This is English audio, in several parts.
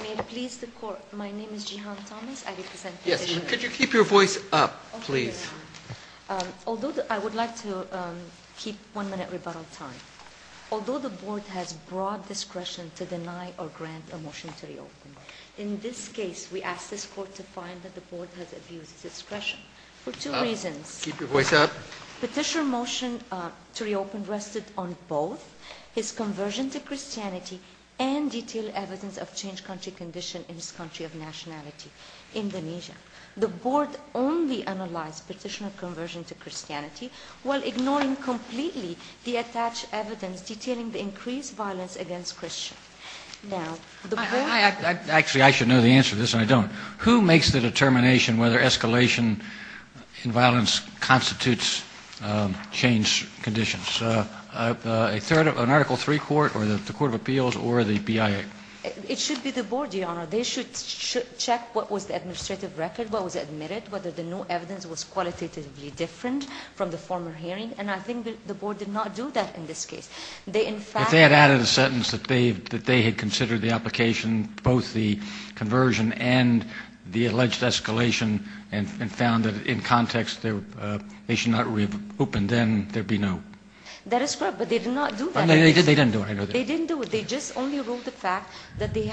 May it please the Court, my name is Jihan Thomas, I represent Petitioner. Yes, could you keep your voice up, please? Although, I would like to keep one minute rebuttal time. Although the Board has broad discretion to deny or grant a motion to reopen, in this case we ask this Court to find that the Board has abused its discretion for two reasons. Keep your voice up. Petitioner motion to reopen rested on both his conversion to Christianity and detailed evidence of changed country condition in his country of nationality, Indonesia. The Board only analyzed Petitioner's conversion to Christianity while ignoring completely the attached evidence detailing the increased violence against Christians. Actually, I should know the answer to this and I don't. Who makes the determination whether escalation in violence constitutes changed conditions? An Article III Court or the Court of Appeals or the BIA? It should be the Board, Your Honor. They should check what was the administrative record, what was admitted, whether the new evidence was qualitatively different from the former hearing, and I think the Board did not do that in this case. If they had added a sentence that they had considered the application, both the conversion and the alleged escalation, and found that in context they should not reopen, then there would be no. That is correct, but they did not do that. They didn't do it. They didn't do it. They just only ruled the fact that he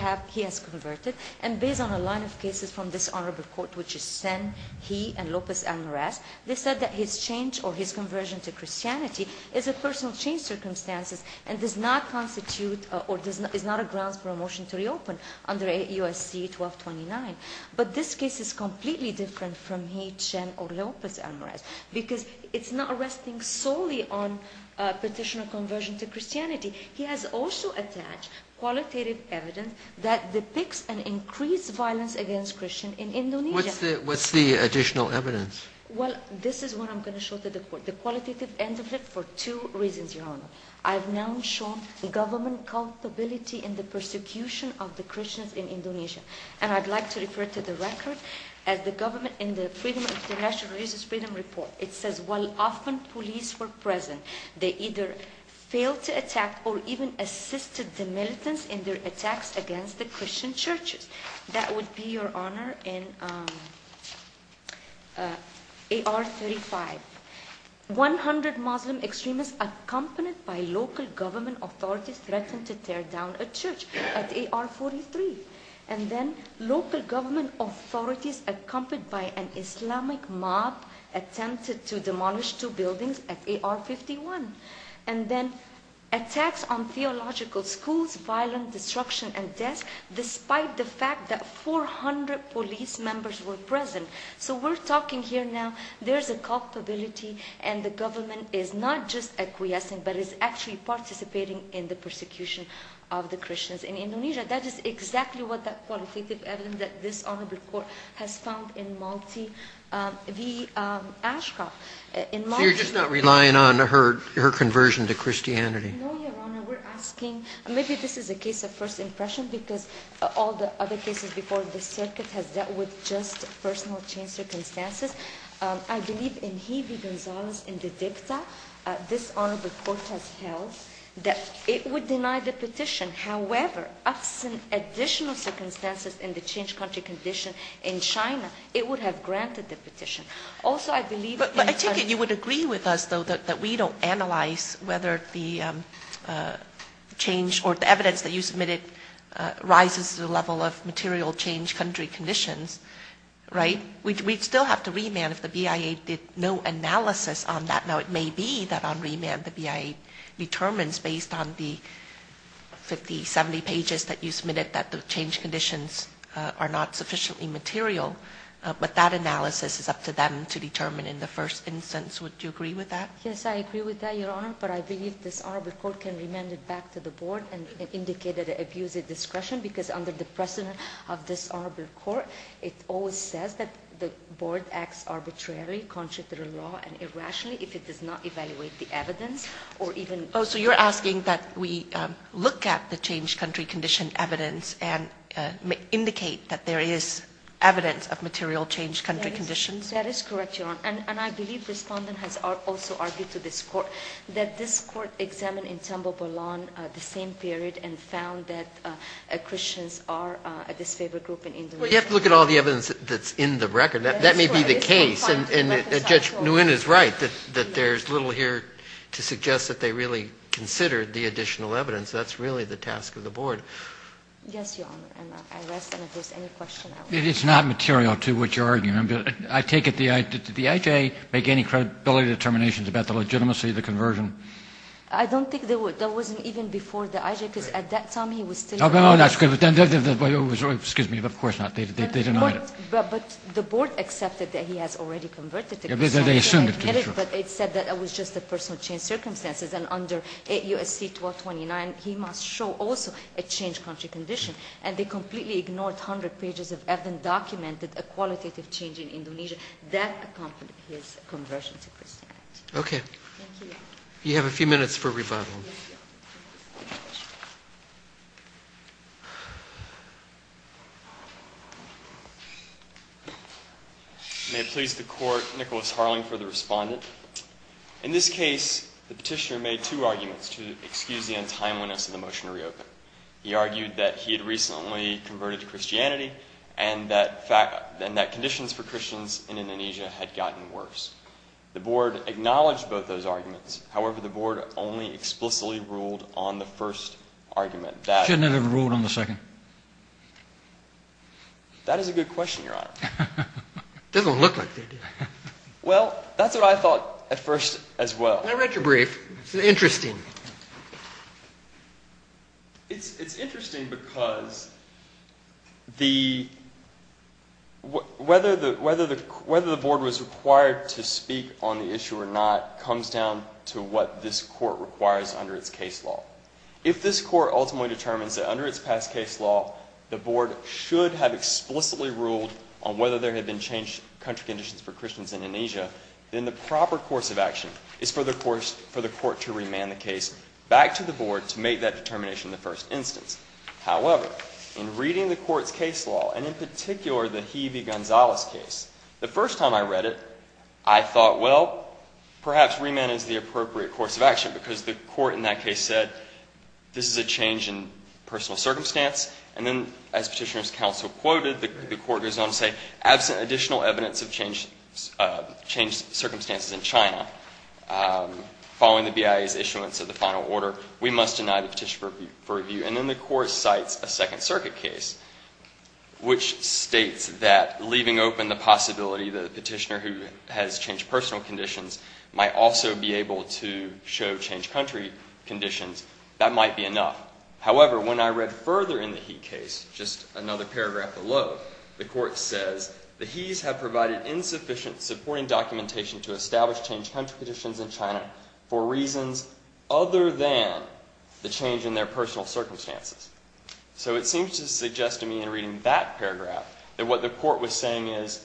has converted. And based on a line of cases from this honorable Court, which is Sen, He, and Lopez-Almaraz, they said that his change or his conversion to Christianity is a personal change circumstance and does not constitute or is not a grounds for a motion to reopen under USC 1229. But this case is completely different from He, Chen, or Lopez-Almaraz because it's not resting solely on petition of conversion to Christianity. He has also attached qualitative evidence that depicts an increased violence against Christians in Indonesia. What's the additional evidence? Well, this is what I'm going to show to the Court. The qualitative end of it for two reasons, Your Honor. I've now shown government culpability in the persecution of the Christians in Indonesia, and I'd like to refer to the record as the government in the Freedom of International Religious Freedom Report. It says, while often police were present, they either failed to attack or even assisted the militants in their attacks against the Christian churches. That would be, Your Honor, in AR 35. One hundred Muslim extremists accompanied by local government authorities threatened to tear down a church at AR 43. And then local government authorities accompanied by an Islamic mob attempted to demolish two buildings at AR 51. And then attacks on theological schools, violent destruction, and deaths, despite the fact that 400 police members were present. So we're talking here now there's a culpability, and the government is not just acquiescing, but is actually participating in the persecution of the Christians in Indonesia. That is exactly what that qualitative evidence that this Honorable Court has found in Malti v. Ashcroft. So you're just not relying on her conversion to Christianity? No, Your Honor. We're asking, maybe this is a case of first impression, because all the other cases before the circuit has dealt with just personal chain circumstances. I believe in He v. Gonzalez in the dicta this Honorable Court has held that it would deny the petition. However, absent additional circumstances in the changed country condition in China, it would have granted the petition. But I take it you would agree with us, though, that we don't analyze whether the change or the evidence that you submitted rises to the level of material changed country conditions, right? We'd still have to remand if the BIA did no analysis on that. Now, it may be that on remand the BIA determines, based on the 50, 70 pages that you submitted, that the changed conditions are not sufficiently material. But that analysis is up to them to determine in the first instance. Would you agree with that? Yes, I agree with that, Your Honor. But I believe this Honorable Court can remand it back to the Board and indicate that it abuses discretion, because under the precedent of this Honorable Court, it always says that the Board acts arbitrarily, contrary to the law and irrationally. If it does not evaluate the evidence or even... Oh, so you're asking that we look at the changed country condition evidence and indicate that there is evidence of material changed country conditions? That is correct, Your Honor. And I believe the Respondent has also argued to this Court that this Court examined in Tambopolon the same period and found that Christians are a disfavored group in Indonesia. Well, you have to look at all the evidence that's in the record. That may be the case. And Judge Nguyen is right, that there's little here to suggest that they really considered the additional evidence. That's really the task of the Board. Yes, Your Honor. And if there's any question... It's not material to what you're arguing. I take it the IJ make any credibility determinations about the legitimacy of the conversion? I don't think there was. That wasn't even before the IJ, because at that time he was still... No, no, no. That's good. Excuse me. Of course not. They denied it. But the Board accepted that he has already converted to Christianity. But it said that it was just a personal change of circumstances. And under USC 1229, he must show also a changed country condition. And they completely ignored 100 pages of evidence that documented a qualitative change in Indonesia. That accompanied his conversion to Christianity. Okay. Thank you. You have a few minutes for rebuttal. Yes, Your Honor. May it please the Court, Nicholas Harling for the respondent. In this case, the Petitioner made two arguments to excuse the untimeliness of the motion to reopen. He argued that he had recently converted to Christianity and that conditions for Christians in Indonesia had gotten worse. The Board acknowledged both those arguments. Shouldn't it have ruled on the second? That is a good question, Your Honor. It doesn't look like it. Well, that's what I thought at first as well. I read your brief. It's interesting. It's interesting because whether the Board was required to speak on the issue or not comes down to what this Court requires under its case law. If this Court ultimately determines that under its past case law, the Board should have explicitly ruled on whether there had been changed country conditions for Christians in Indonesia, then the proper course of action is for the Court to remand the case back to the Board to make that determination in the first instance. However, in reading the Court's case law, and in particular the Hebe-Gonzalez case, the first time I read it, I thought, well, perhaps remand is the appropriate course of action because the Court in that case said this is a change in personal circumstance. And then as Petitioner's counsel quoted, the Court goes on to say, absent additional evidence of changed circumstances in China, following the BIA's issuance of the final order, we must deny the petition for review. And then the Court cites a Second Circuit case, which states that leaving open the possibility that a petitioner who has changed personal conditions might also be able to show changed country conditions, that might be enough. However, when I read further in the Hebe case, just another paragraph below, the Court says, the Hebes have provided insufficient supporting documentation to establish changed country conditions in China for reasons other than the change in their personal circumstances. So it seems to suggest to me in reading that paragraph that what the Court was saying is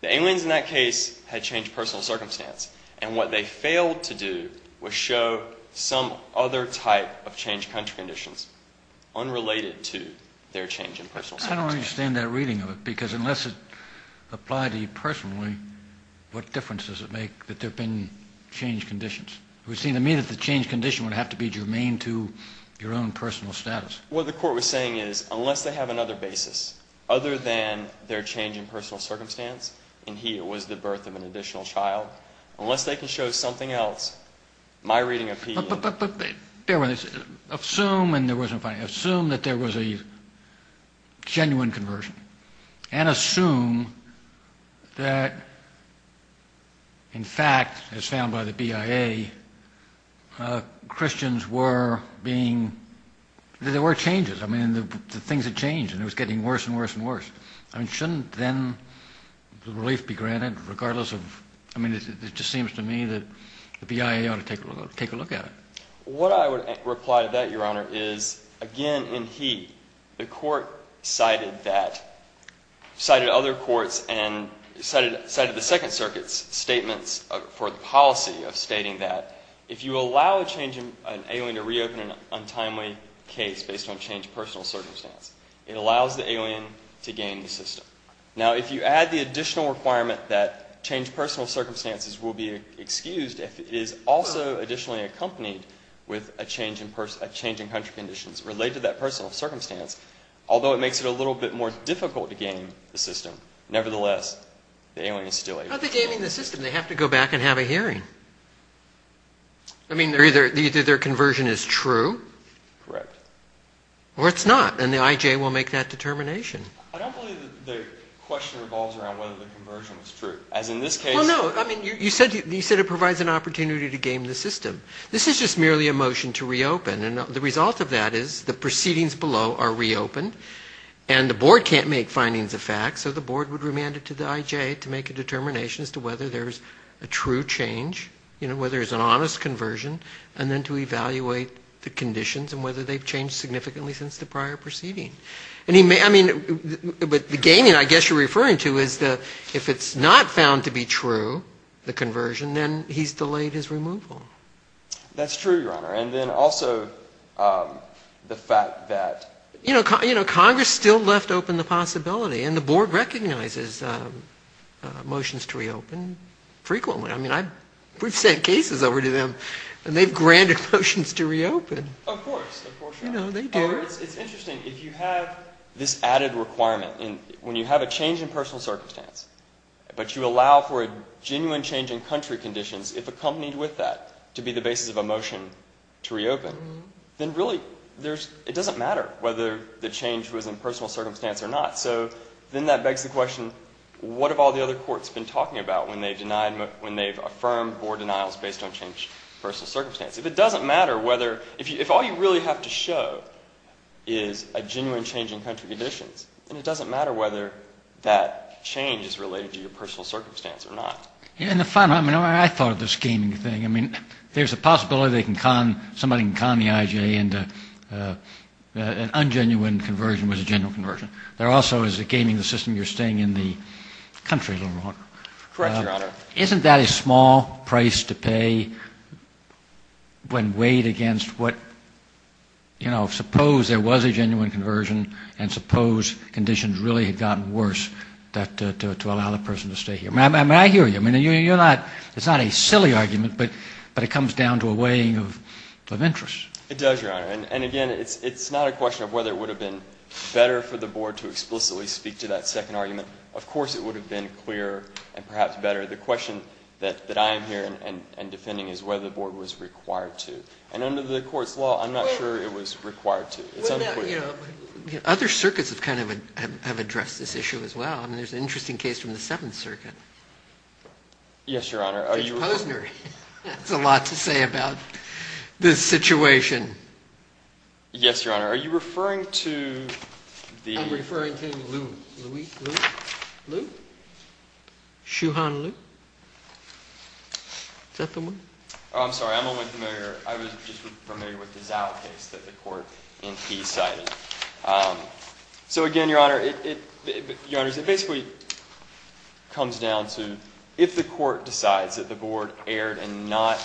the aliens in that case had changed personal circumstance, and what they failed to do was show some other type of changed country conditions unrelated to their change in personal circumstances. I don't understand that reading of it, because unless it applied to you personally, what difference does it make that there have been changed conditions? It would seem to me that the changed condition would have to be germane to your own personal status. What the Court was saying is, unless they have another basis, other than their change in personal circumstance, and here was the birth of an additional child, unless they can show something else, my reading of Petitioner... But bear with me. Assume that there was a genuine conversion, and assume that, in fact, as found by the BIA, Christians were being... There were changes. I mean, the things had changed, and it was getting worse and worse and worse. I mean, shouldn't then the relief be granted regardless of... I mean, it just seems to me that the BIA ought to take a look at it. What I would reply to that, Your Honor, is, again, in he, the Court cited that, cited other courts and cited the Second Circuit's statements for the policy of stating that if you allow an alien to reopen an untimely case based on changed personal circumstance, it allows the alien to gain the system. Now, if you add the additional requirement that changed personal circumstances will be excused if it is also additionally accompanied with a change in country conditions related to that personal circumstance, although it makes it a little bit more difficult to gain the system, nevertheless, the alien is still able to... How are they gaining the system? They have to go back and have a hearing. I mean, either their conversion is true... Correct. Or it's not, and the IJ will make that determination. I don't believe that the question revolves around whether the conversion is true, as in this case... Well, no. I mean, you said it provides an opportunity to gain the system. This is just merely a motion to reopen, and the result of that is the proceedings below are reopened, and the Board can't make findings of fact, so the Board would remand it to the IJ to make a determination as to whether there's a true change, you know, whether there's an honest conversion, and then to evaluate the conditions and whether they've changed significantly since the prior proceeding. I mean, but the gaining I guess you're referring to is that if it's not found to be true, the conversion, then he's delayed his removal. That's true, Your Honor, and then also the fact that... You know, Congress still left open the possibility, and the Board recognizes motions to reopen frequently. I mean, we've sent cases over to them, and they've granted motions to reopen. Of course. Of course you have. You know, they do. It's interesting. If you have this added requirement, when you have a change in personal circumstance, but you allow for a genuine change in country conditions, if accompanied with that to be the basis of a motion to reopen, then really it doesn't matter whether the change was in personal circumstance or not. So then that begs the question, what have all the other courts been talking about when they've affirmed Board denials based on change in personal circumstance? If it doesn't matter whether... If all you really have to show is a genuine change in country conditions, then it doesn't matter whether that change is related to your personal circumstance or not. And the final... I mean, I thought of this gaming thing. I mean, there's a possibility somebody can con the I.G.A. into an ungenuine conversion was a genuine conversion. There also is a gaming system, you're staying in the country a little longer. Correct, Your Honor. Isn't that a small price to pay when weighed against what, you know, suppose there was a genuine conversion and suppose conditions really had gotten worse to allow the person to stay here? I mean, I hear you. I mean, you're not... It's not a silly argument, but it comes down to a weighing of interest. It does, Your Honor. And again, it's not a question of whether it would have been better for the Board to explicitly speak to that second argument. Of course it would have been clearer and perhaps better. The question that I am here and defending is whether the Board was required to. And under the Court's law, I'm not sure it was required to. It's unclear. Other circuits have kind of addressed this issue as well. I mean, there's an interesting case from the Seventh Circuit. Yes, Your Honor. Judge Posner has a lot to say about this situation. Yes, Your Honor. Are you referring to the... Are you referring to Lou? Lou? Shuhan Lou? Is that the one? Oh, I'm sorry. I'm only familiar. I was just familiar with the Zao case that the Court in Key cited. So again, Your Honor, it basically comes down to if the Court decides that the Board erred in not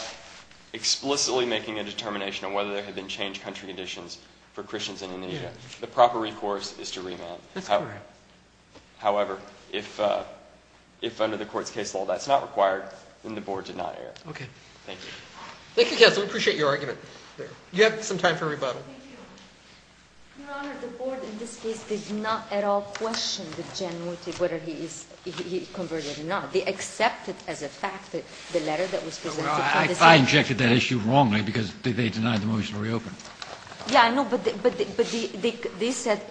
explicitly making a determination on whether there had been changed country conditions for Christians in Indonesia, the proper recourse is to remand. That's correct. However, if under the Court's case law that's not required, then the Board did not err. Okay. Thank you. Thank you, counsel. We appreciate your argument. You have some time for rebuttal. Thank you. Your Honor, the Board in this case did not at all question the genuity of whether he converted or not. They accepted as a fact the letter that was presented. I injected that issue wrongly because they denied the motion to reopen. Yeah, I know. But they said,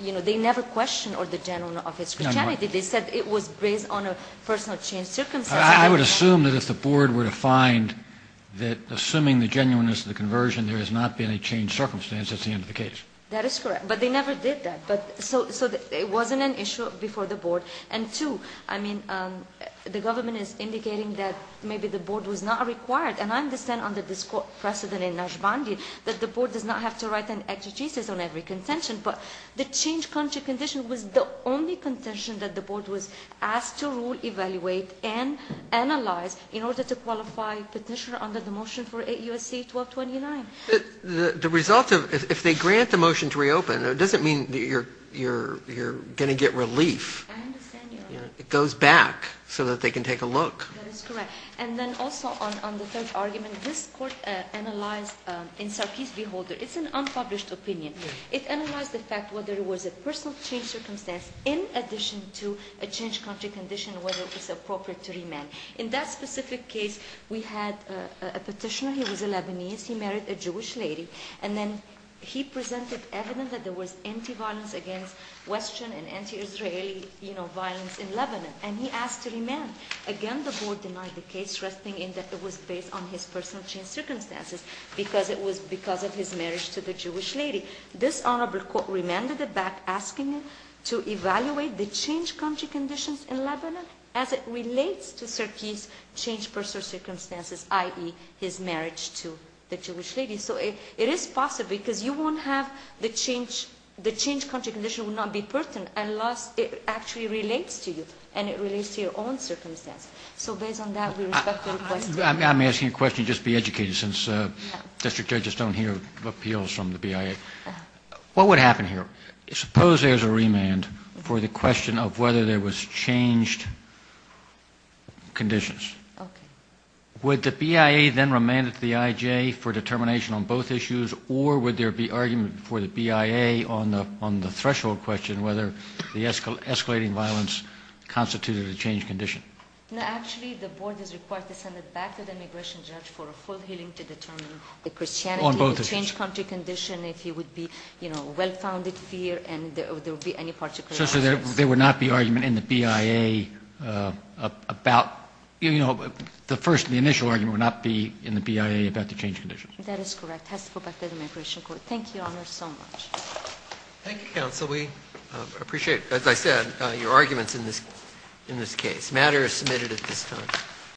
you know, they never questioned the genuineness of his Christianity. They said it was based on a personal change circumstance. I would assume that if the Board were to find that assuming the genuineness of the conversion, there has not been a changed circumstance, that's the end of the case. That is correct. But they never did that. So it wasn't an issue before the Board. And two, I mean, the government is indicating that maybe the Board was not required. And I understand under this precedent in Najbandi that the Board does not have to write an exegesis on every contention. But the changed country condition was the only contention that the Board was asked to rule, evaluate, and analyze in order to qualify petitioner under the motion for 8 U.S.C. 1229. The result of ‑‑ if they grant the motion to reopen, it doesn't mean that you're going to get relief. I understand your argument. It goes back so that they can take a look. That is correct. And then also on the third argument, this Court analyzed in Sarkees v. Holder. It's an unpublished opinion. It analyzed the fact whether it was a personal change circumstance in addition to a changed country condition, whether it's appropriate to remand. In that specific case, we had a petitioner. He was a Lebanese. He married a Jewish lady. And then he presented evidence that there was anti‑violence against Western and anti‑Israeli, you know, violence in Lebanon. And he asked to remand. Again, the Board denied the case, stressing that it was based on his personal change circumstances because it was because of his marriage to the Jewish lady. This Honorable Court remanded it back, asking it to evaluate the changed country conditions in Lebanon as it relates to Sarkees' changed personal circumstances, i.e., his marriage to the Jewish lady. So it is possible because you won't have the changed country condition would not be pertinent unless it actually relates to you and it relates to your own circumstances. So based on that, we respect the request. I'm asking a question. Just be educated since district judges don't hear appeals from the BIA. What would happen here? Suppose there's a remand for the question of whether there was changed conditions. Okay. Would the BIA then remand it to the IJ for determination on both issues or would there be argument for the BIA on the threshold question whether the escalating violence constituted a changed condition? No, actually, the Board is required to send it back to the immigration judge for a full hearing to determine the Christianity, the changed country condition, if he would be, you know, well‑founded fear and there would be any particular ‑‑ So there would not be argument in the BIA about, you know, the first, the initial argument would not be in the BIA about the changed conditions? That is correct. It has to go back to the immigration court. Thank you, Your Honor, so much. Thank you, counsel. We appreciate, as I said, your arguments in this case. The matter is submitted at this time.